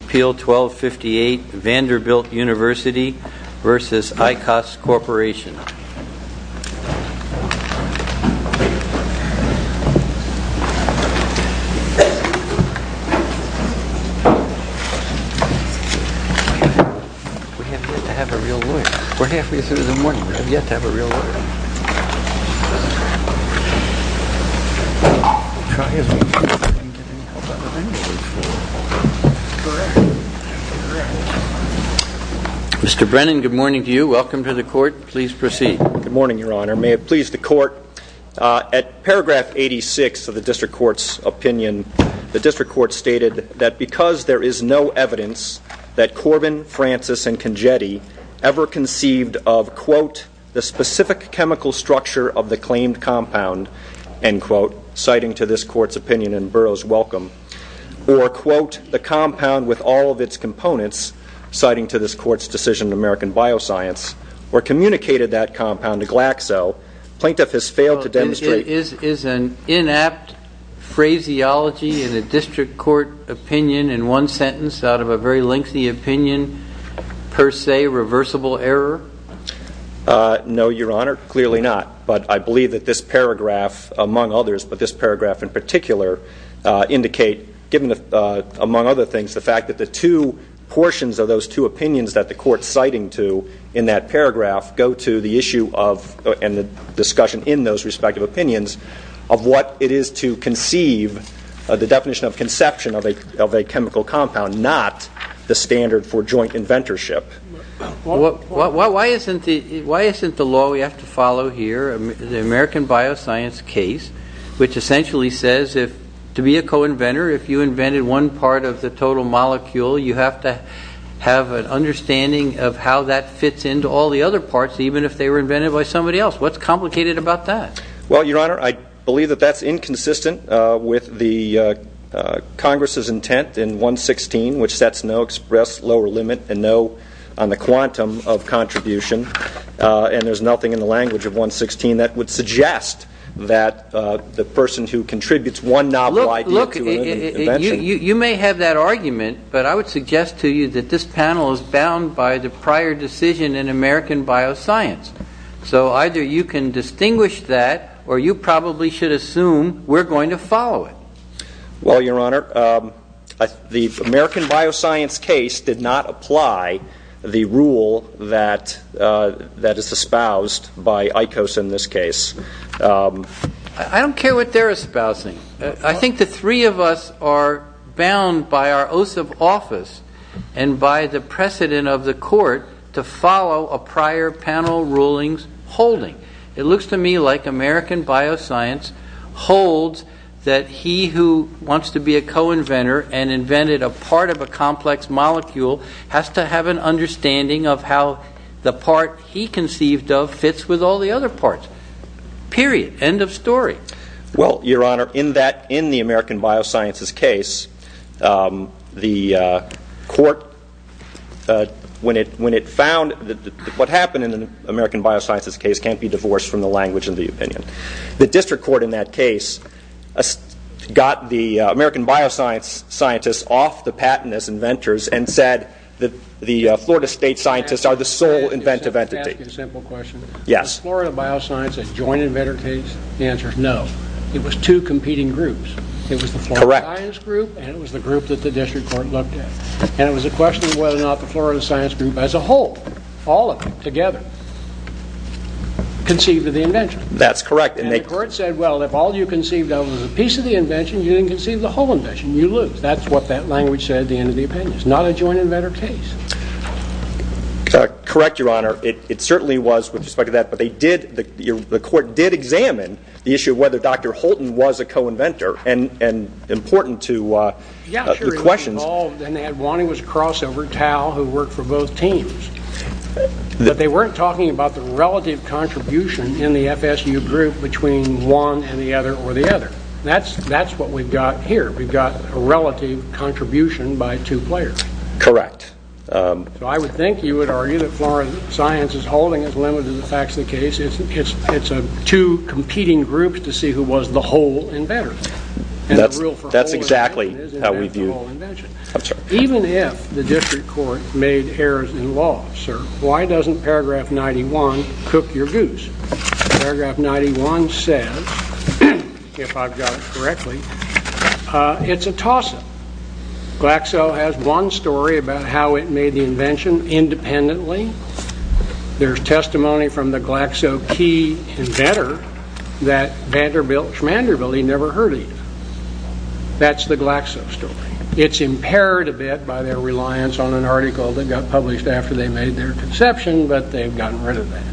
Appeal 1258 Vanderbilt University v. ICOS Corp. Mr. Brennan, good morning to you. Welcome to the Court. Please proceed. Good morning, Your Honor. May it please the Court, at paragraph 86 of the District Court's opinion, the District Court stated that because there is no evidence that Corbin, Francis, and Congetti ever conceived of, quote, the specific chemical structure of the claimed compound, end quote, citing to this Court's opinion in Burroughs-Wellcome, or, quote, the compound with all of its components, citing to this Court's decision in American Bioscience, or communicated that compound to Glaxo, plaintiff has failed to demonstrate Is an inapt phraseology in a District Court opinion in one sentence out of a very lengthy opinion per se reversible error? No, Your Honor, clearly not. But I believe that this paragraph, among others, but this among other things, the fact that the two portions of those two opinions that the Court's citing to in that paragraph go to the issue of, and the discussion in those respective opinions, of what it is to conceive, the definition of conception of a chemical compound, not the standard for joint inventorship. Why isn't the law we have to follow here, the American Bioscience case, which essentially says if, to be a co-inventor, if you invented one part of the total molecule, you have to have an understanding of how that fits into all the other parts, even if they were invented by somebody else. What's complicated about that? Well, Your Honor, I believe that that's inconsistent with the Congress's intent in 116, which sets no express lower limit and no on the quantum of contribution. And there's nothing in the law that contributes one novel idea to another invention. You may have that argument, but I would suggest to you that this panel is bound by the prior decision in American Bioscience. So either you can distinguish that, or you probably should assume we're going to follow it. Well, Your Honor, the American Bioscience case did not apply the rule that is espoused by ICOS in this case. I don't care what they're espousing. I think the three of us are bound by our oath of office and by the precedent of the court to follow a prior panel ruling's holding. It looks to me like American Bioscience holds that he who wants to be a co-inventor and invented a part of a complex molecule has to have an understanding of how the part he conceived of fits with all the other parts. Period. End of story. Well, Your Honor, in the American Biosciences case, the court, when it found that what happened in the American Biosciences case can't be divorced from the language of the opinion, the district court in that case got the American Biosciences scientists off the patent as inventors and said that the Florida State scientists are the sole inventive entity. Let me ask you a simple question. Is Florida Bioscience a joint inventor case? The answer is no. It was two competing groups. It was the Florida Science Group and it was the group that the district court looked at. And it was a question of whether or not the Florida Science Group as a whole, all of them together, conceived of the invention. That's correct. And the court said, well, if all you conceived of was a piece of the invention, you didn't conceive the whole invention. You lose. That's what that language said at the end of the opinion. It's not a joint inventor case. Correct, Your Honor. It certainly was with respect to that. But they did, the court did examine the issue of whether Dr. Holton was a co-inventor and important to the questions. And they had Juanita's crossover, Tal, who worked for both teams. But they weren't talking about the relative contribution in the FSU group between one and the other or the other. That's what we've got here. We've got a relative contribution by two players. Correct. So I would think you would argue that Florida Science is holding as limited as the facts of the case. It's two competing groups to see who was the whole inventor. That's exactly how we view it. Even if the district court made errors in law, sir, why doesn't paragraph 91 cook your goose? Paragraph 91 says, if I've got it correctly, it's a toss-up. Glaxo has one story about how it made the invention independently. There's testimony from the Glaxo key inventor that Vanderbilt, Schmanderbilt, he never heard of. That's the Glaxo story. It's impaired a bit by their reliance on an article that got published after they made their conception, but they've gotten rid of that.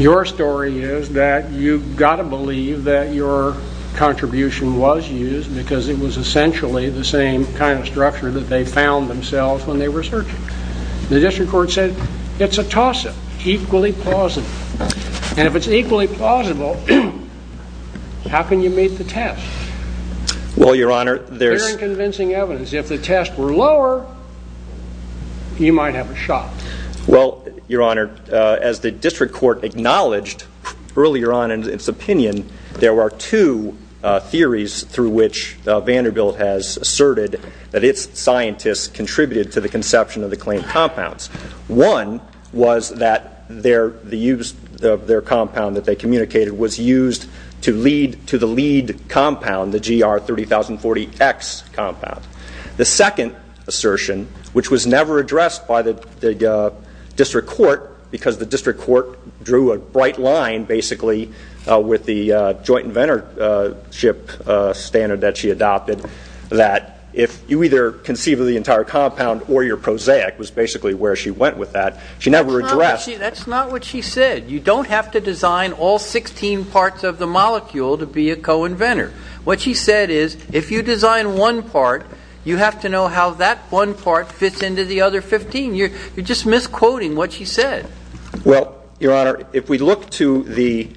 Your story is that you've got to believe that your contribution was used because it was found themselves when they were searching. The district court said it's a toss-up, equally plausible. And if it's equally plausible, how can you make the test? Well, your honor, there's... Very convincing evidence. If the tests were lower, you might have a shot. Well, your honor, as the district court acknowledged earlier on in its opinion, there were two theories through which Vanderbilt has asserted that its scientists contributed to the conception of the claimed compounds. One was that their compound that they communicated was used to lead to the lead compound, the GR 30040X compound. The second assertion, which was never addressed by the district court because the district court drew a bright line, basically, with the joint inventorship standard that she adopted, that if you either conceive of the entire compound or you're prosaic, was basically where she went with that, she never addressed... That's not what she said. You don't have to design all 16 parts of the molecule to be a co-inventor. What she said is, if you design one part, you have to know how that one part fits into the other 15. You're just misquoting what she said. Well, your honor, if we look to the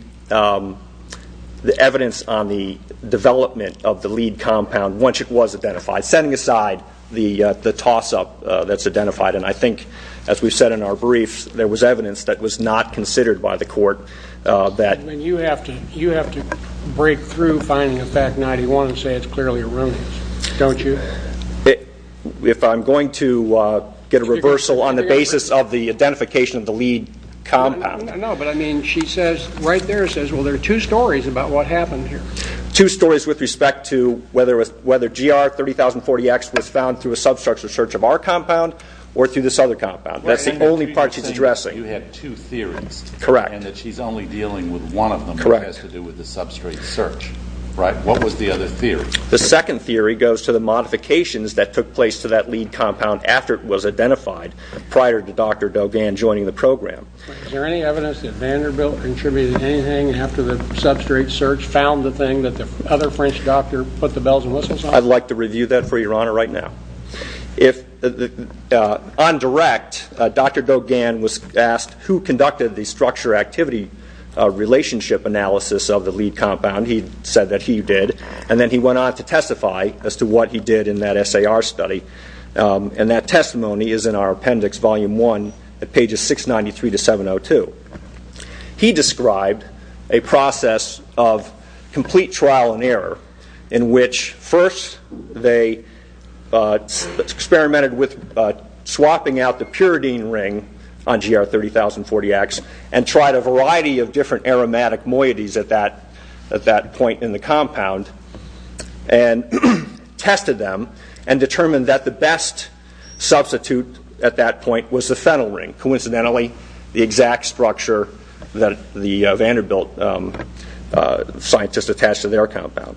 evidence on the development of the lead compound, once it was identified, setting aside the toss-up that's identified, and I think, as we've said in our briefs, there was evidence that was not considered by the court that... You have to break through finding a FAC 91 and say it's clearly a ruminant, don't you? If I'm going to get a reversal on the basis of the identification of the lead compound... Right there it says, well, there are two stories about what happened here. Two stories with respect to whether GR 30,040X was found through a substructure search of our compound or through this other compound. That's the only part she's addressing. You had two theories and that she's only dealing with one of them that has to do with the substrate search, right? What was the other theory? The second theory goes to the modifications that took place to that lead compound after it was identified prior to Dr. Dogan joining the program. Is there any evidence that Vanderbilt contributed anything after the substrate search found the thing that the other French doctor put the bells and whistles on? I'd like to review that for your honor right now. On direct, Dr. Dogan was asked who conducted the structure activity relationship analysis of the lead compound. He said that he did, and then he went on to testify as to what he did in that SAR study. That testimony is in our appendix, volume one, at pages 693 to 702. He described a process of complete trial and error in which first they experimented with swapping out the puridine ring on GR 30,040X and tried a variety of different aromatic moieties at that point in the compound and tested them and determined that the best substitute at that point was the phenyl ring. Coincidentally, the exact structure that the Vanderbilt scientists attached to their compound.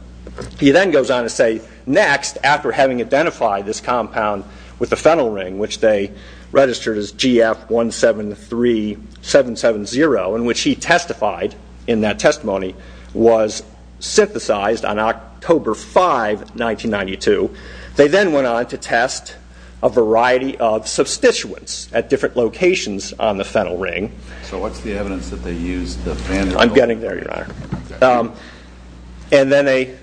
He then goes on to say, next, after having identified this compound with the phenyl ring, which they registered as GF 173770, in which he testified in that testimony, was synthesized on October 5, 1992, they then went on to test a variety of substituents at different locations on the phenyl ring. So what's the evidence that they used the phenyl ring? I'm getting there, your honor. And then they,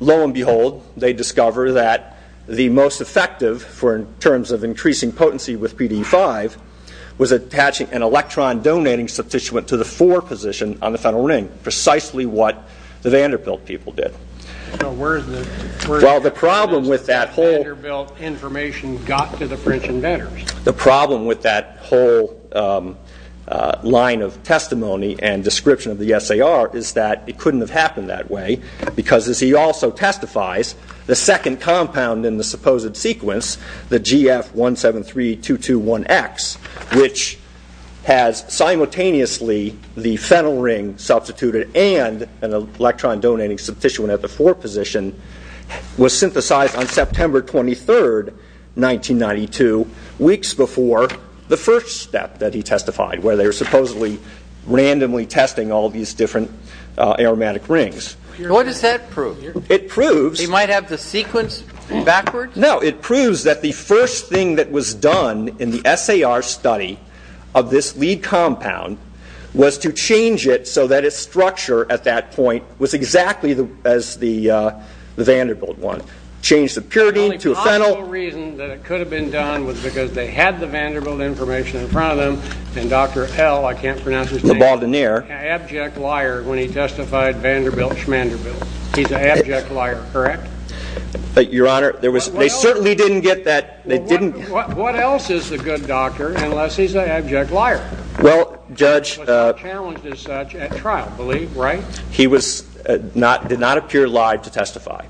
lo and behold, they discover that the most effective, in terms of increasing potency with PDE 5, was attaching an electron donating substituent to the 4 position on the phenyl ring, precisely what the Vanderbilt people did. So where is the evidence that Vanderbilt information got to the French inventors? The problem with that whole line of testimony and description of the SAR is that it couldn't have happened that way, because as he also testifies, the second compound in the supposed sequence, the GF 173221X, which has simultaneously the phenyl ring substituted and an electron donating substituent at the 4 position, was synthesized on September 23, 1992. Weeks before the first step that he testified, where they were supposedly randomly testing all these different aromatic rings. What does that prove? It proves... They might have the sequence backwards? No, it proves that the first thing that was done in the SAR study of this lead compound was to change it so that its structure at that point was exactly as the Vanderbilt one. Change the pyridine to a phenyl... The only possible reason that it could have been done was because they had the Vanderbilt information in front of them, and Dr. L, I can't pronounce his name... LeBaldenier... ...an abject liar when he testified Vanderbilt-Schmanderbilt. He's an abject liar, correct? Your Honor, they certainly didn't get that... What else is a good doctor unless he's an abject liar? Well, Judge... He was challenged as such at trial, believe, right? He did not appear live to testify,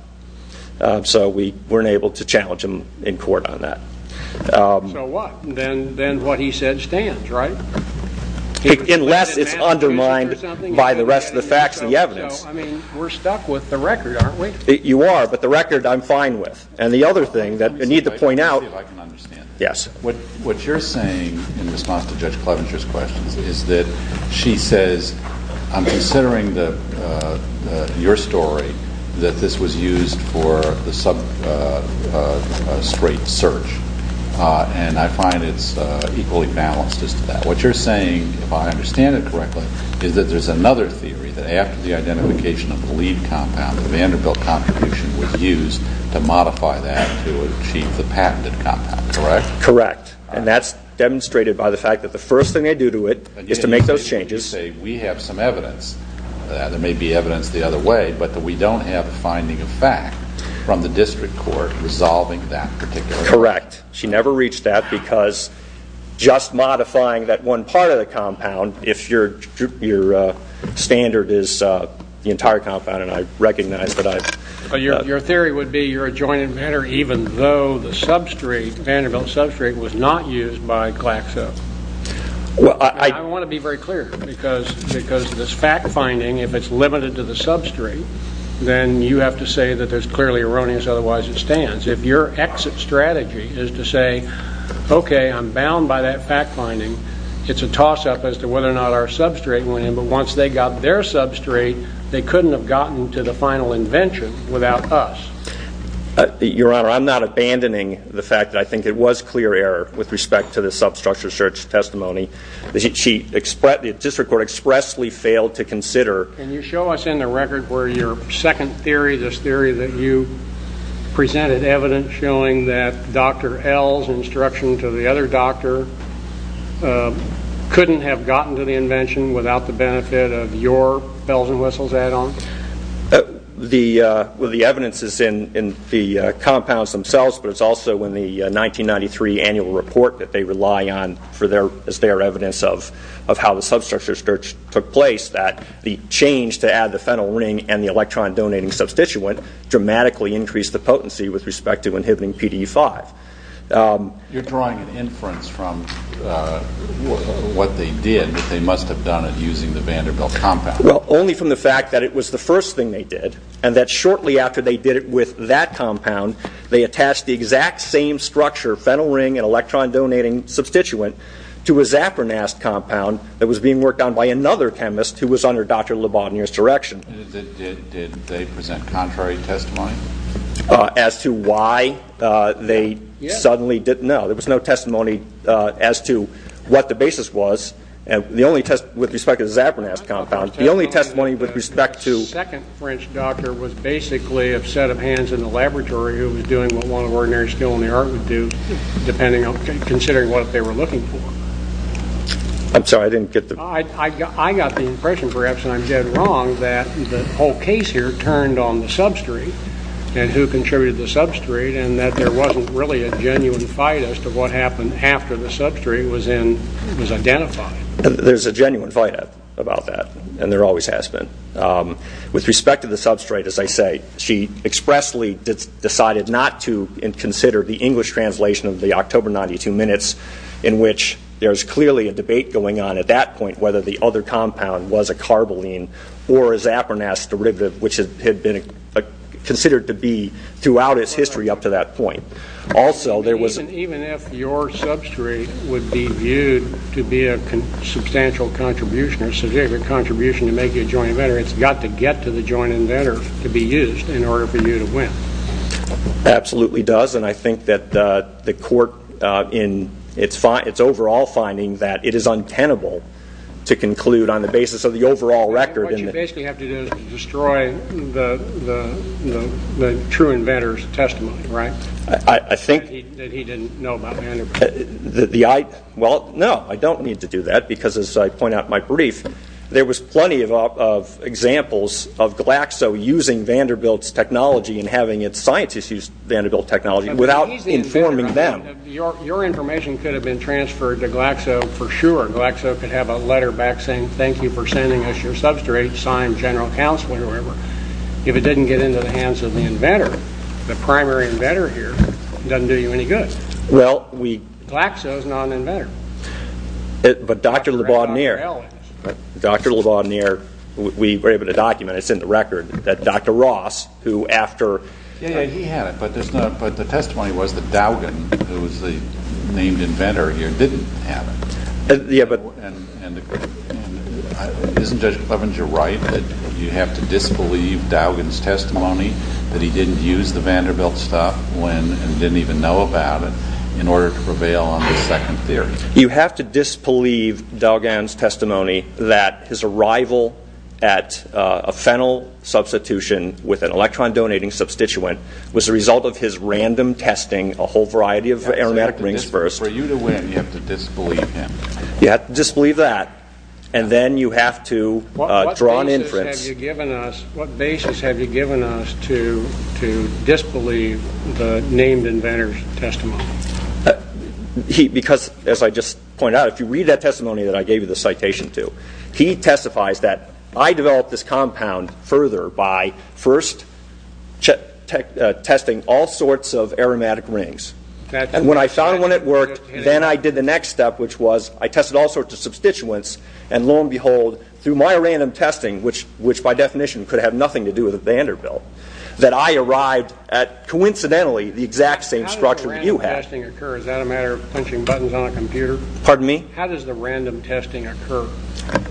so we weren't able to challenge him in court on that. So what? Then what he said stands, right? Unless it's undermined by the rest of the facts and the evidence. So, so. I mean, we're stuck with the record, aren't we? You are, but the record I'm fine with. And the other thing that I need to point out... Let me see if I can understand this. What you're saying in response to Judge Clevenger's questions is that she says, I'm considering the, your story, that this was used for the sub straight search. And I find it's equally balanced as to that. What you're saying, if I understand it correctly, is that there's another theory that after the identification of the lead compound, the Vanderbilt contribution was used to modify that to achieve the patented compound, correct? Correct. And that's demonstrated by the fact that the first thing they do to it is to make those changes. So you're saying we have some evidence that there may be evidence the other way, but that we don't have a finding of fact from the district court resolving that particular... Correct. She never reached that because just modifying that one part of the compound, if your, your standard is the entire compound, and I recognize that I've... Your theory would be you're a joint inventor, even though the substrate, Vanderbilt substrate, was not used by Glaxo. Well, I... I don't want to be very clear because, because this fact finding, if it's limited to the substrate, then you have to say that there's clearly erroneous, otherwise it stands. If your exit strategy is to say, okay, I'm bound by that fact finding, it's a toss up as to whether or not our substrate went in. But once they got their substrate, they couldn't have gotten to the final invention without us. Your Honor, I'm not abandoning the fact that I think it was clear error with respect to the substructure search testimony. The district court expressly failed to consider... Can you show us in the record where your second theory, this theory that you presented evidence showing that Dr. L's instruction to the other doctor couldn't have gotten to the invention without the benefit of your bells and whistles add on? The evidence is in the compounds themselves, but it's also in the 1993 annual report that they rely on as their evidence of how the substructure search took place that the change to add the phenyl ring and the electron donating substituent dramatically increased the potency with respect to inhibiting PDE5. You're drawing an inference from what they did, but they must have done it using the Vanderbilt compound. Well, only from the fact that it was the first thing they did, and that shortly after they did it with that compound, they attached the exact same structure, phenyl ring and electron donating substituent to a Zafranast compound that was being worked on by another chemist who was under Dr. LeBaudinier's direction. Did they present contrary testimony? As to why they suddenly didn't know. There was no testimony as to what the basis was. The only test with respect to the Zafranast compound, the only testimony with respect to... The second French doctor was basically a set of hands in the laboratory who was doing what a lot of ordinary skill in the art would do, considering what they were looking for. I'm sorry, I didn't get the... I got the impression, perhaps, and I'm dead wrong, that the whole case here turned on the substrate and who contributed to the substrate, and that there wasn't really a genuine fight as to what happened after the substrate was identified. There's a genuine fight about that, and there always has been. With respect to the substrate, as I say, she expressly decided not to consider the English translation of the October 92 minutes, in which there's clearly a debate going on at that point whether the other compound was a carboline or a Zafranast derivative, which had been considered to be throughout its history up to that point. Also there was... Even if your substrate would be viewed to be a substantial contribution or significant contribution, it's got to get to the joint inventor to be used in order for you to win. Absolutely does. I think that the court, in its overall finding, that it is untenable to conclude on the basis of the overall record. What you basically have to do is to destroy the true inventor's testimony, right? That he didn't know about Van der Brugge. Well, no, I don't need to do that, because as I point out in my brief, there was plenty of examples of Glaxo using Vanderbilt's technology and having its scientists use Vanderbilt technology without informing them. Your information could have been transferred to Glaxo for sure. Glaxo could have a letter back saying, thank you for sending us your substrate, signed General Counsel, whatever. If it didn't get into the hands of the inventor, the primary inventor here, it doesn't do you any good. Glaxo's not an inventor. But Dr. LeBaudnier, we were able to document, it's in the record, that Dr. Ross, who after... Yeah, yeah, he had it, but the testimony was that Dowgan, who was the named inventor here, didn't have it. Yeah, but... And isn't Judge Clevenger right that you have to disbelieve Dowgan's testimony, that he didn't use the Vanderbilt stuff, and didn't even know about it, in order to prevail on the second theory? You have to disbelieve Dowgan's testimony that his arrival at a phenyl substitution with an electron donating substituent was the result of his random testing a whole variety of aromatic rings first. For you to win, you have to disbelieve him. You have to disbelieve that, and then you have to draw an inference. Because, as I just pointed out, if you read that testimony that I gave you the citation to, he testifies that I developed this compound further by first testing all sorts of aromatic rings. And when I found one that worked, then I did the next step, which was I tested all sorts of substituents, and lo and behold, through my random testing, which by definition could have nothing to do with the Vanderbilt, that I arrived at, coincidentally, the exact same structure that you have. How does the random testing occur? Is that a matter of punching buttons on a computer? Pardon me? How does the random testing occur?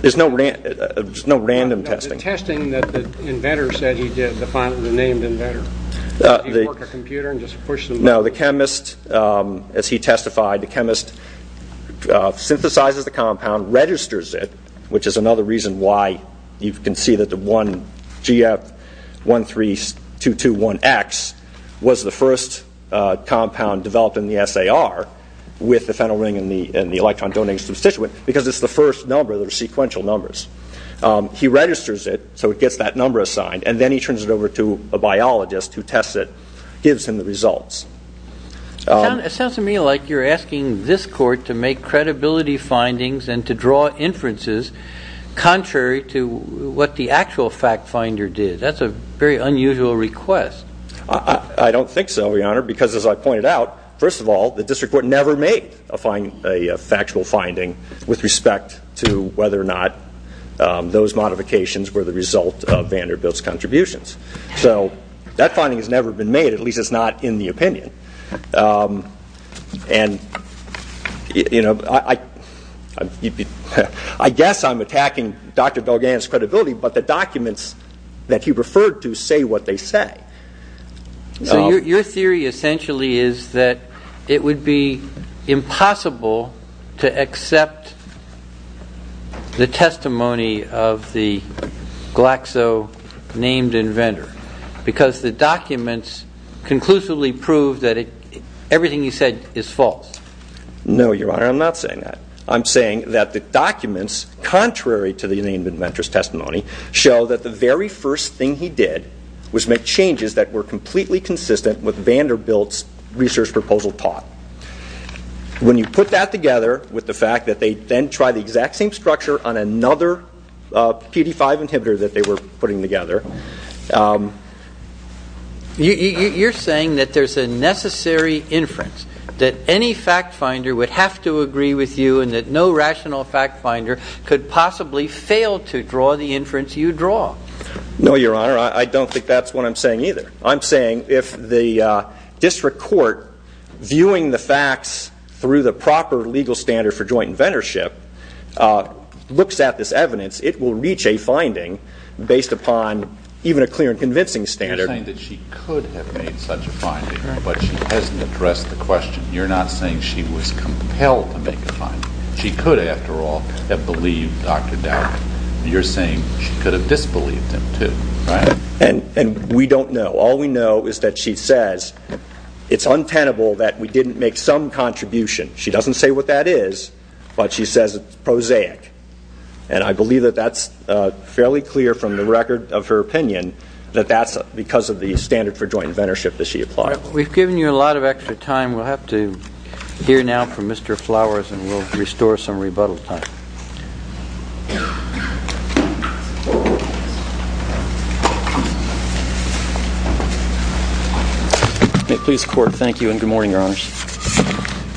There's no random testing. No, the testing that the inventor said he did, the named inventor. Did he work a computer and just push some buttons? No, the chemist, as he testified, the chemist synthesizes the compound, registers it, which is another reason why you can see that the 1GF13221X was the first compound developed in the SAR with the phenyl ring and the electron donating substituent, because it's the first number that are sequential numbers. He registers it, so it gets that number assigned, and then he turns it over to a biologist who tests it, gives him the results. It sounds to me like you're asking this court to make credibility findings and to draw inferences contrary to what the actual fact finder did. That's a very unusual request. I don't think so, Your Honor, because as I pointed out, first of all, the district court never made a factual finding with respect to whether or not those modifications were the result of Vanderbilt's contributions. That finding has never been made. At least it's not in the opinion. I guess I'm attacking Dr. Belgan's credibility, but the documents that he referred to say what they say. Your theory essentially is that it would be impossible to accept the testimony of the Named Inventor, because the documents conclusively prove that everything he said is false. No, Your Honor, I'm not saying that. I'm saying that the documents, contrary to the Named Inventor's testimony, show that the very first thing he did was make changes that were completely consistent with Vanderbilt's research proposal taught. When you put that together with the fact that they then tried the exact same structure on another PD-5 inhibitor that they were putting together. You're saying that there's a necessary inference, that any fact finder would have to agree with you and that no rational fact finder could possibly fail to draw the inference you draw. No, Your Honor, I don't think that's what I'm saying either. I'm saying if the district court, viewing the facts through the proper legal standard for joint inventorship, looks at this evidence, it will reach a finding based upon even a clear and convincing standard. You're saying that she could have made such a finding, but she hasn't addressed the question. You're not saying she was compelled to make a finding. She could, after all, have believed Dr. Dowery. You're saying she could have disbelieved him too, right? And we don't know. All we know is that she says it's untenable that we didn't make some contribution. She doesn't say what that is, but she says it's prosaic. And I believe that that's fairly clear from the record of her opinion that that's because of the standard for joint inventorship that she applied. We've given you a lot of extra time. We'll have to hear now from Mr. Flowers and we'll restore some rebuttal time. May it please the Court, thank you and good morning, Your Honors.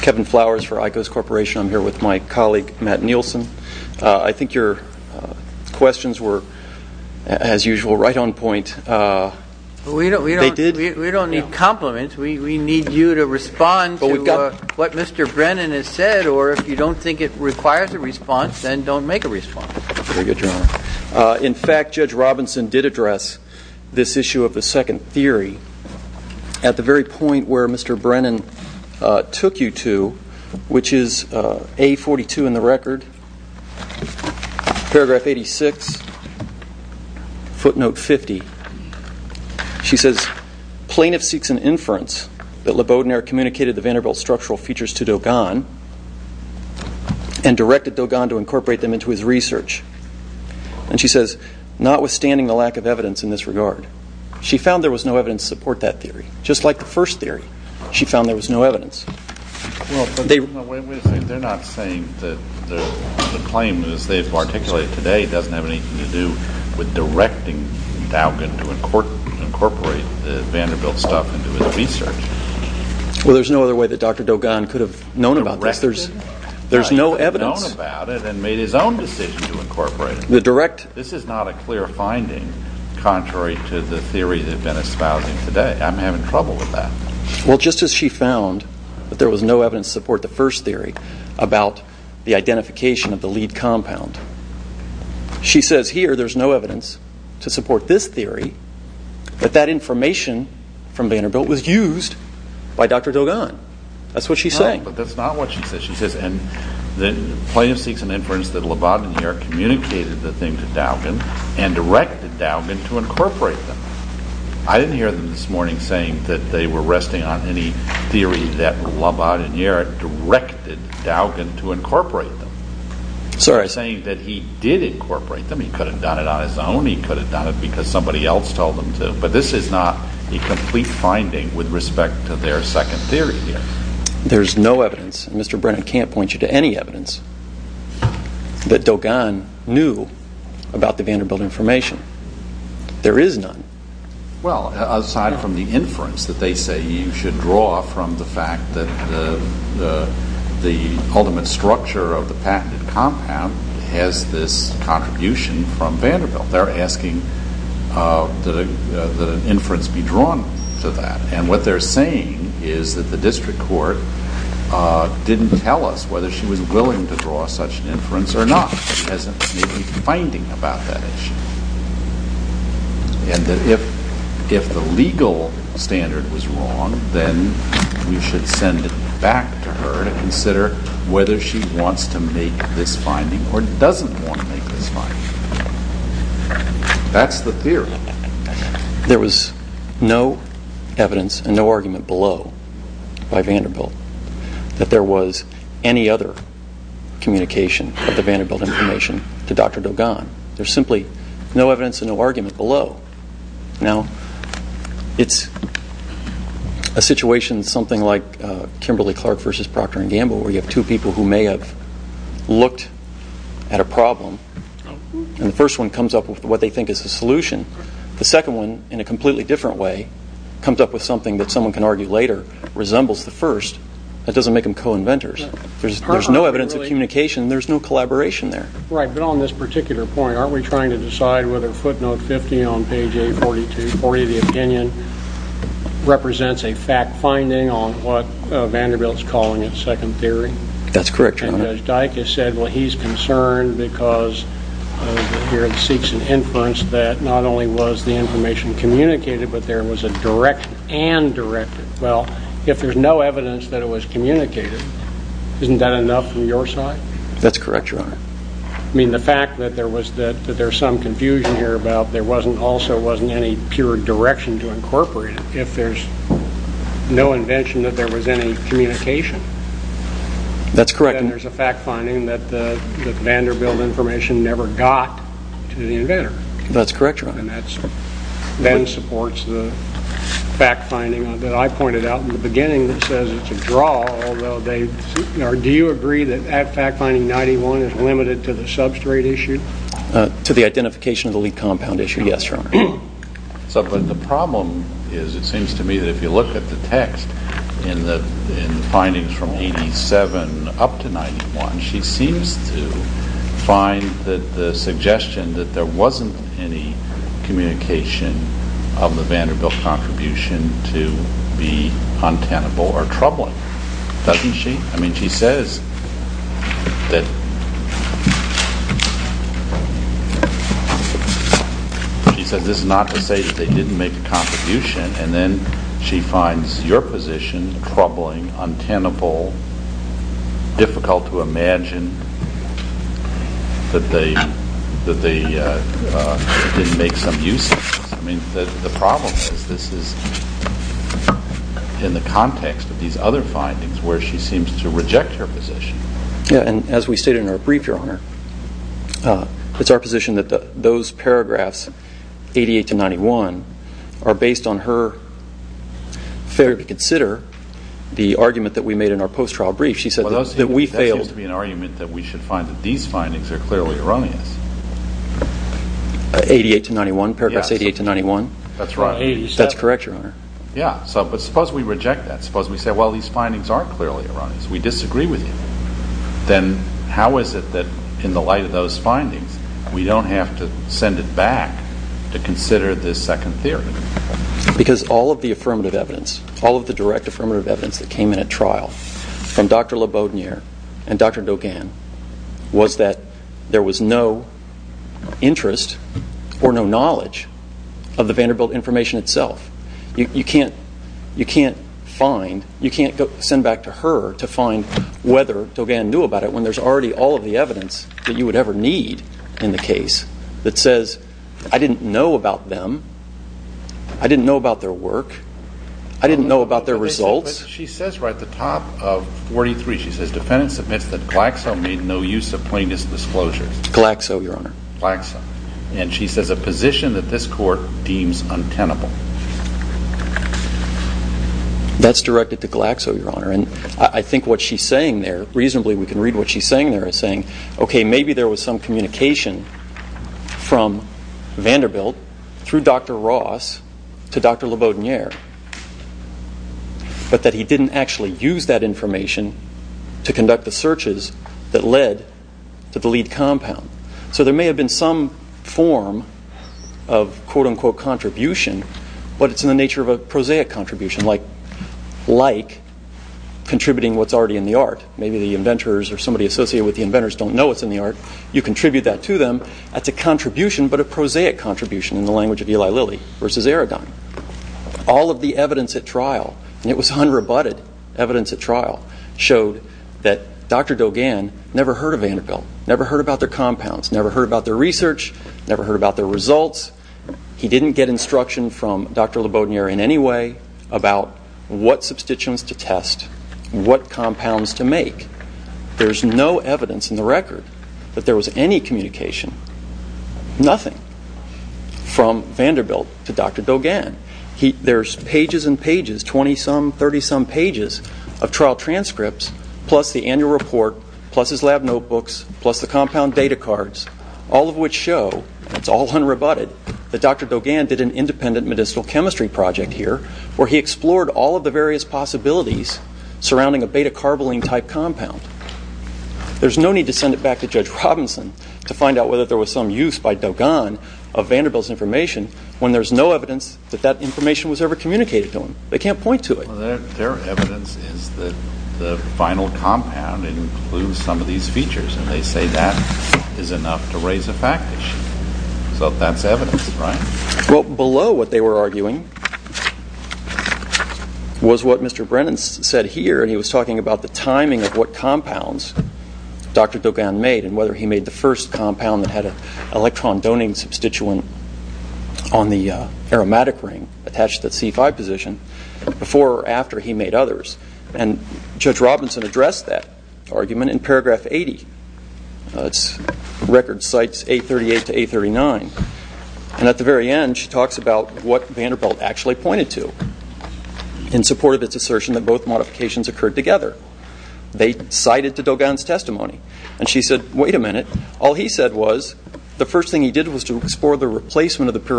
Kevin Flowers for Icos Corporation. I'm here with my colleague, Matt Nielsen. I think your questions were, as usual, right on point. They did. We don't need compliments. We need you to respond to what Mr. Brennan has said, or if you don't think it requires a response, then don't make a response. Very good, Your Honor. In fact, Judge Robinson did address this issue of the second theory at the very point where Mr. Brennan took you to, which is A42 in the record, paragraph 86, footnote 50. She says, Plaintiff seeks an inference that LeBaudinaire communicated the Vanderbilt structural features to Dogan and directed Dogan to incorporate them into his research. And she says, Notwithstanding the lack of evidence in this regard. She found there was no evidence to support that theory. Just like the first theory, she found there was no evidence. They're not saying that the claim, as they've articulated today, doesn't have anything to do with directing Dogan to incorporate the Vanderbilt stuff into his research. Well, there's no other way that Dr. Dogan could have known about this. There's no evidence. He could have known about it and made his own decision to incorporate it. This is not a clear finding contrary to the theory they've been espousing today. I'm having trouble with that. Well, just as she found that there was no evidence to support the first theory about the identification of the lead compound. She says, Here, there's no evidence to support this theory, but that information from Vanderbilt was used by Dr. Dogan. That's what she's saying. No, but that's not what she says. She says, Plaintiff seeks an inference that LeBaudinaire communicated the thing to Dogan and directed Dogan to incorporate them. I didn't hear them this morning saying that they were resting on any theory that LeBaudinaire directed Dogan to incorporate them. Sorry. They're saying that he did incorporate them. He could have done it on his own. He could have done it because somebody else told him to. But this is not a complete finding with respect to their second theory here. There's no evidence, and Mr. Brennan can't point you to any evidence, that Dogan knew about the Vanderbilt information. There is none. Well, aside from the inference that they say you should draw from the fact that the ultimate structure of the patented compound has this contribution from Vanderbilt. They're asking that an inference be drawn to that, and what they're saying is that the district court didn't tell us whether she was willing to draw such an inference or not. It hasn't made any finding about that issue. And that if the legal standard was wrong, then we should send it back to her to consider whether she wants to make this finding or doesn't want to make this finding. That's the theory. There was no evidence and no argument below by Vanderbilt that there was any other communication of the Vanderbilt information to Dr. Dogan. There's simply no evidence and no argument below. Now, it's a situation something like Kimberly-Clark versus Proctor and Gamble where you have two people who may have looked at a problem, and the first one comes up with what they think is the solution. The second one, in a completely different way, comes up with something that someone can argue later, resembles the first. That doesn't make them co-inventors. There's no evidence of communication. There's no collaboration there. Right, but on this particular point, aren't we trying to decide whether footnote 50 on page 840 of the opinion represents a fact finding on what Vanderbilt's calling a second theory? That's correct, Your Honor. And Judge Dike has said, well, he's concerned because here it seeks an inference that not only was the information communicated, but there was a direction and directed. Well, if there's no evidence that it was communicated, isn't that enough from your side? That's correct, Your Honor. I mean, the fact that there was some confusion here about there also wasn't any pure direction to incorporate it, if there's no invention that there was any communication. That's correct. Then there's a fact finding that the Vanderbilt information never got to the inventor. That's correct, Your Honor. And that then supports the fact finding that I pointed out in the beginning that says it's a draw, although do you agree that fact finding 91 is limited to the substrate issue? To the identification of the lead compound issue, yes, Your Honor. But the problem is it seems to me that if you look at the text in the findings from 87 up to 91, she seems to find that the suggestion that there wasn't any communication of the Vanderbilt contribution to be untenable or troubling, doesn't she? I mean, she says that this is not to say that they didn't make a contribution, and then she finds your position troubling, untenable, difficult to imagine that they didn't make some use of this. I mean, the problem is this is in the context of these other findings where she seems to reject her position. Yeah, and as we stated in our brief, Your Honor, it's our position that those paragraphs, 88 to 91, are based on her failure to consider the argument that we made in our post-trial brief. She said that we failed. That seems to be an argument that we should find that these findings are clearly erroneous. 88 to 91? Paragraphs 88 to 91? That's right. That's correct, Your Honor. Yeah, but suppose we reject that. Suppose we say, well, these findings aren't clearly erroneous. We disagree with you. Then how is it that in the light of those findings, we don't have to send it back to consider this second theory? Because all of the affirmative evidence, all of the direct affirmative evidence that came in at trial from Dr. LeBaudinier and Dr. Dogan was that there was no interest or no knowledge of the Vanderbilt information itself. You can't send back to her to find whether Dogan knew about it when there's already all of the evidence that you would ever need in the case that says, I didn't know about them. I didn't know about their work. I didn't know about their results. She says right at the top of 43, she says, defendant submits that Glaxo made no use of plaintiff's disclosures. Glaxo, Your Honor. Glaxo. And she says a position that this court deems untenable. That's directed to Glaxo, Your Honor. And I think what she's saying there, reasonably we can read what she's saying there, is saying, okay, maybe there was some communication from Vanderbilt through Dr. Ross to Dr. LeBaudinier, but that he didn't actually use that information to conduct the searches that led to the lead compound. So there may have been some form of quote-unquote contribution, but it's in the nature of a prosaic contribution, like contributing what's already in the art. Maybe the inventors or somebody associated with the inventors don't know what's in the art. You contribute that to them. That's a contribution, but a prosaic contribution in the language of Eli Lilly versus Aradine. All of the evidence at trial, and it was unrebutted evidence at trial, showed that Dr. Dogan never heard of Vanderbilt, never heard about their compounds, never heard about their research, never heard about their results. He didn't get instruction from Dr. LeBaudinier in any way about what substituents to test, what compounds to make. There's no evidence in the record that there was any communication, nothing, from Vanderbilt to Dr. Dogan. There's pages and pages, 20-some, 30-some pages of trial transcripts, plus the annual report, plus his lab notebooks, plus the compound data cards, all of which show, it's all unrebutted, that Dr. Dogan did an independent medicinal chemistry project here where he explored all of the various possibilities surrounding a beta-carboline-type compound. There's no need to send it back to Judge Robinson to find out whether there was some use by Dogan of Vanderbilt's information when there's no evidence that that information was ever communicated to him. They can't point to it. Well, their evidence is that the final compound includes some of these features, and they say that is enough to raise a fact issue. So that's evidence, right? Well, below what they were arguing was what Mr. Brennan said here, and he was talking about the timing of what compounds Dr. Dogan made and whether he made the first compound that had an electron-doning substituent on the aromatic ring attached to that C5 position before or after he made others. And Judge Robinson addressed that argument in paragraph 80. The record cites A38 to A39. And at the very end, she talks about what Vanderbilt actually pointed to in support of its assertion that both modifications occurred together. They cited to Dogan's testimony, and she said, wait a minute, all he said was the first thing he did was to explore the replacement of the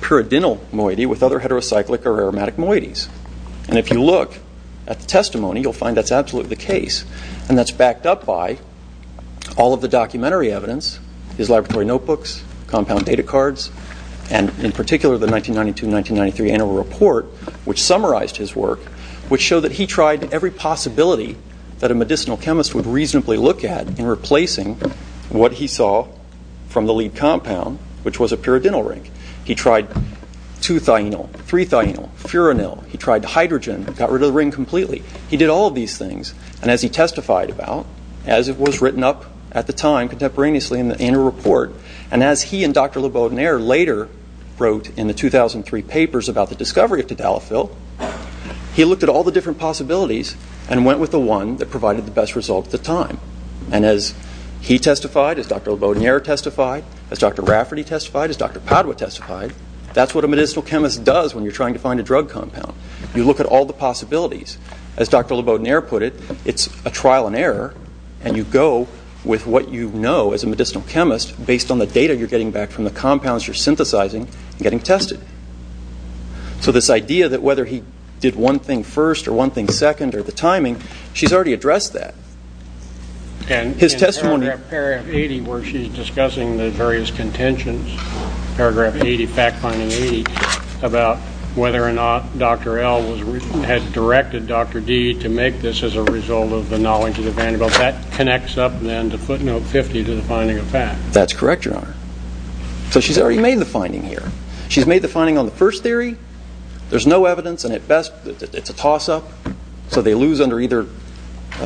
pyridinyl moiety with other heterocyclic or aromatic moieties. And if you look at the testimony, you'll find that's absolutely the case, and that's backed up by all of the documentary evidence, his laboratory notebooks, compound data cards, and in particular the 1992-1993 annual report, which summarized his work, which showed that he tried every possibility that a medicinal chemist would reasonably look at in replacing what he saw from the lead compound, which was a pyridinyl ring. He tried 2-thionyl, 3-thionyl, furanil. He tried hydrogen, got rid of the ring completely. He did all of these things, and as he testified about, as it was written up at the time contemporaneously in the annual report, and as he and Dr. LeBaudinaire later wrote in the 2003 papers about the discovery of Tadalafil, he looked at all the different possibilities and went with the one that provided the best result at the time. And as he testified, as Dr. LeBaudinaire testified, as Dr. Rafferty testified, as Dr. Padua testified, that's what a medicinal chemist does when you're trying to find a drug compound. You look at all the possibilities. As Dr. LeBaudinaire put it, it's a trial and error, and you go with what you know as a medicinal chemist based on the data you're getting back from the compounds you're synthesizing and getting tested. And she's already addressed that. In paragraph 80 where she's discussing the various contentions, paragraph 80, fact-finding 80, about whether or not Dr. L. had directed Dr. D. to make this as a result of the knowledge of the Vanderbilt, that connects up then to footnote 50 to the finding of fact. That's correct, Your Honor. So she's already made the finding here. She's made the finding on the first theory. There's no evidence, and at best it's a toss-up, so they lose under either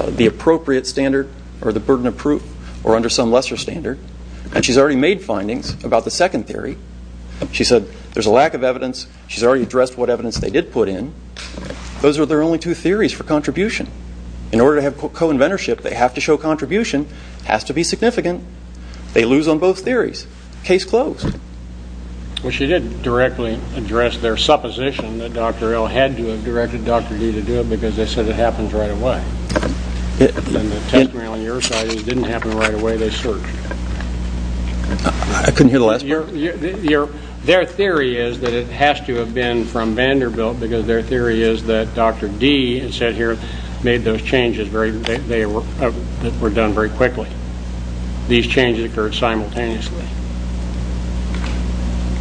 the appropriate standard or the burden of proof or under some lesser standard. And she's already made findings about the second theory. She said there's a lack of evidence. She's already addressed what evidence they did put in. Those are their only two theories for contribution. In order to have co-inventorship, they have to show contribution. It has to be significant. They lose on both theories. Case closed. Well, she did directly address their supposition that Dr. L. had to have directed Dr. D. to do it because they said it happens right away. And the testimony on your side is it didn't happen right away. They searched. I couldn't hear the last part. Their theory is that it has to have been from Vanderbilt because their theory is that Dr. D., it says here, made those changes that were done very quickly. These changes occurred simultaneously.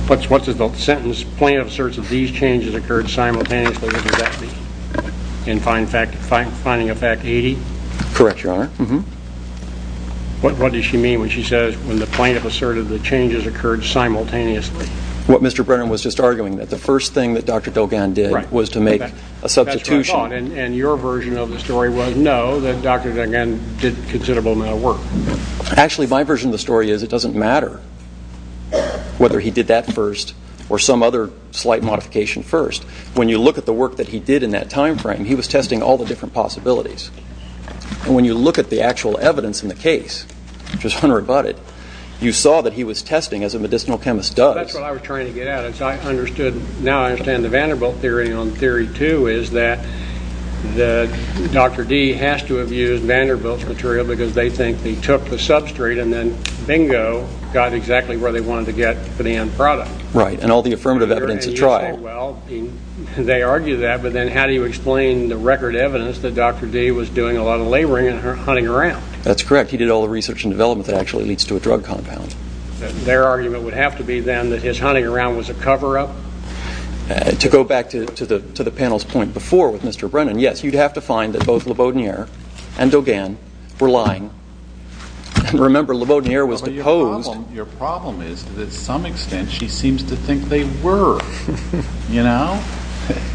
What's the sentence? Plaintiff asserts that these changes occurred simultaneously. What does that mean? In finding a fact 80? Correct, Your Honor. What does she mean when she says when the plaintiff asserted the changes occurred simultaneously? What Mr. Brennan was just arguing, that the first thing that Dr. Delgan did was to make a substitution. And your version of the story was no, that Dr. Delgan did a considerable amount of work. Actually, my version of the story is it doesn't matter whether he did that first or some other slight modification first. When you look at the work that he did in that time frame, he was testing all the different possibilities. And when you look at the actual evidence in the case, which was unrebutted, you saw that he was testing as a medicinal chemist does. That's what I was trying to get at. Now I understand the Vanderbilt theory. The theory, too, is that Dr. D. has to have used Vanderbilt's material because they think he took the substrate and then, bingo, got exactly where they wanted to get for the end product. Right, and all the affirmative evidence has tried. Well, they argue that, but then how do you explain the record evidence that Dr. D. was doing a lot of laboring and hunting around? That's correct. He did all the research and development that actually leads to a drug compound. Their argument would have to be then that his hunting around was a cover-up? To go back to the panel's point before with Mr. Brennan, yes, you'd have to find that both LeBaudinier and Dugan were lying. Remember, LeBaudinier was deposed. Your problem is that to some extent she seems to think they were.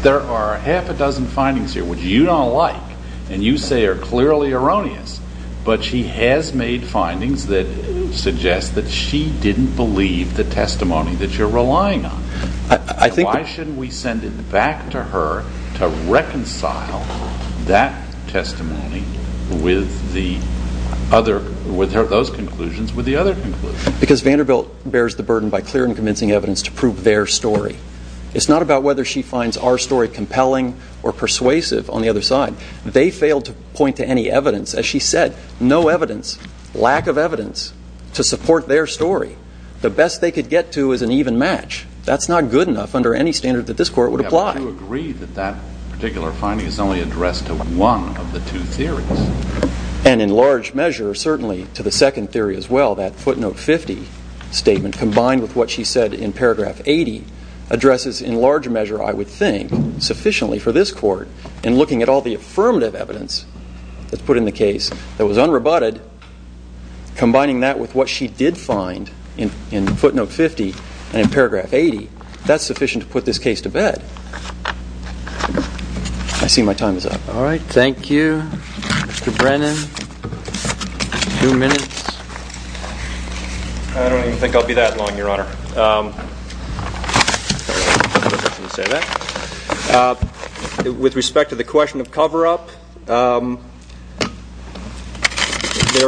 There are half a dozen findings here which you don't like and you say are clearly erroneous, but she has made findings that suggest that she didn't believe the testimony that you're relying on. Why shouldn't we send it back to her to reconcile that testimony with those conclusions with the other conclusions? Because Vanderbilt bears the burden by clear and convincing evidence to prove their story. It's not about whether she finds our story compelling or persuasive on the other side. They failed to point to any evidence. As she said, no evidence, lack of evidence to support their story. The best they could get to is an even match. That's not good enough under any standard that this Court would apply. Would you agree that that particular finding is only addressed to one of the two theories? And in large measure, certainly to the second theory as well, that footnote 50 statement combined with what she said in paragraph 80 addresses in large measure, I would think, sufficiently for this Court in looking at all the affirmative evidence that's put in the case that was unrebutted, combining that with what she did find in footnote 50 and in paragraph 80, that's sufficient to put this case to bed. I see my time is up. All right. Thank you, Mr. Brennan. Two minutes. I don't even think I'll be that long, Your Honor. With respect to the question of cover-up, there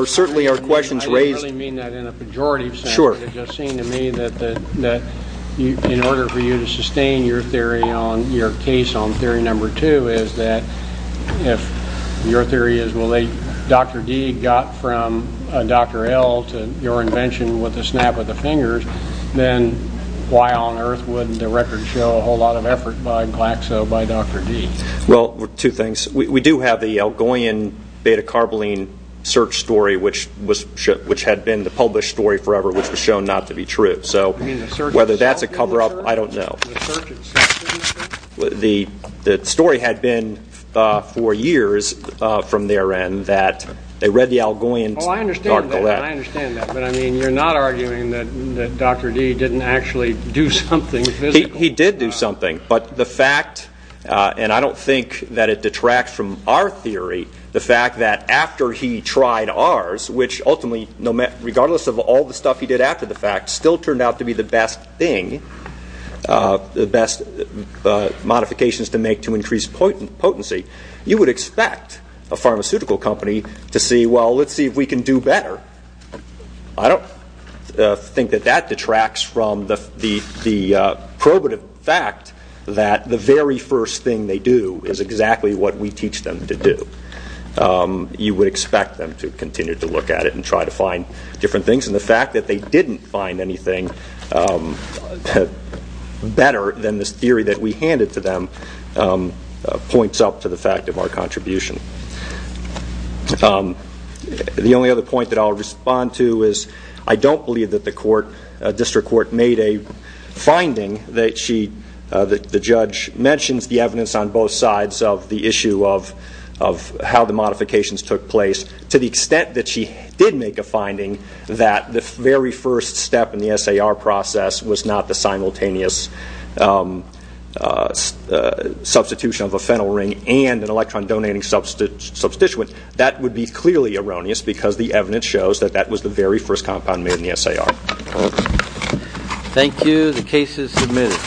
certainly are questions raised. I didn't really mean that in a pejorative sense. Sure. It just seemed to me that in order for you to sustain your theory on your case on theory number two is that if your theory is, well, Dr. D got from Dr. L to your invention with a snap of the fingers, then why on earth wouldn't the record show a whole lot of effort by Glaxo by Dr. D? Well, two things. We do have the Algoian beta-carboline search story, which had been the published story forever, which was shown not to be true. So whether that's a cover-up, I don't know. The story had been for years from therein that they read the Algoian to Dr. L. I understand that. But, I mean, you're not arguing that Dr. D didn't actually do something physical? He did do something. But the fact, and I don't think that it detracts from our theory, the fact that after he tried ours, which ultimately, regardless of all the stuff he did after the fact, still turned out to be the best thing, the best modifications to make to increase potency, you would expect a pharmaceutical company to say, well, let's see if we can do better. I don't think that that detracts from the probative fact that the very first thing they do is exactly what we teach them to do. You would expect them to continue to look at it and try to find different things. And the fact that they didn't find anything better than this theory that we handed to them points up to the fact of our contribution. The only other point that I'll respond to is I don't believe that the court, district court, made a finding that the judge mentions the evidence on both sides of the issue of how the modifications took place, because to the extent that she did make a finding that the very first step in the SAR process was not the simultaneous substitution of a phenyl ring and an electron donating substituent, that would be clearly erroneous because the evidence shows that that was the very first compound made in the SAR. Thank you. The case is submitted.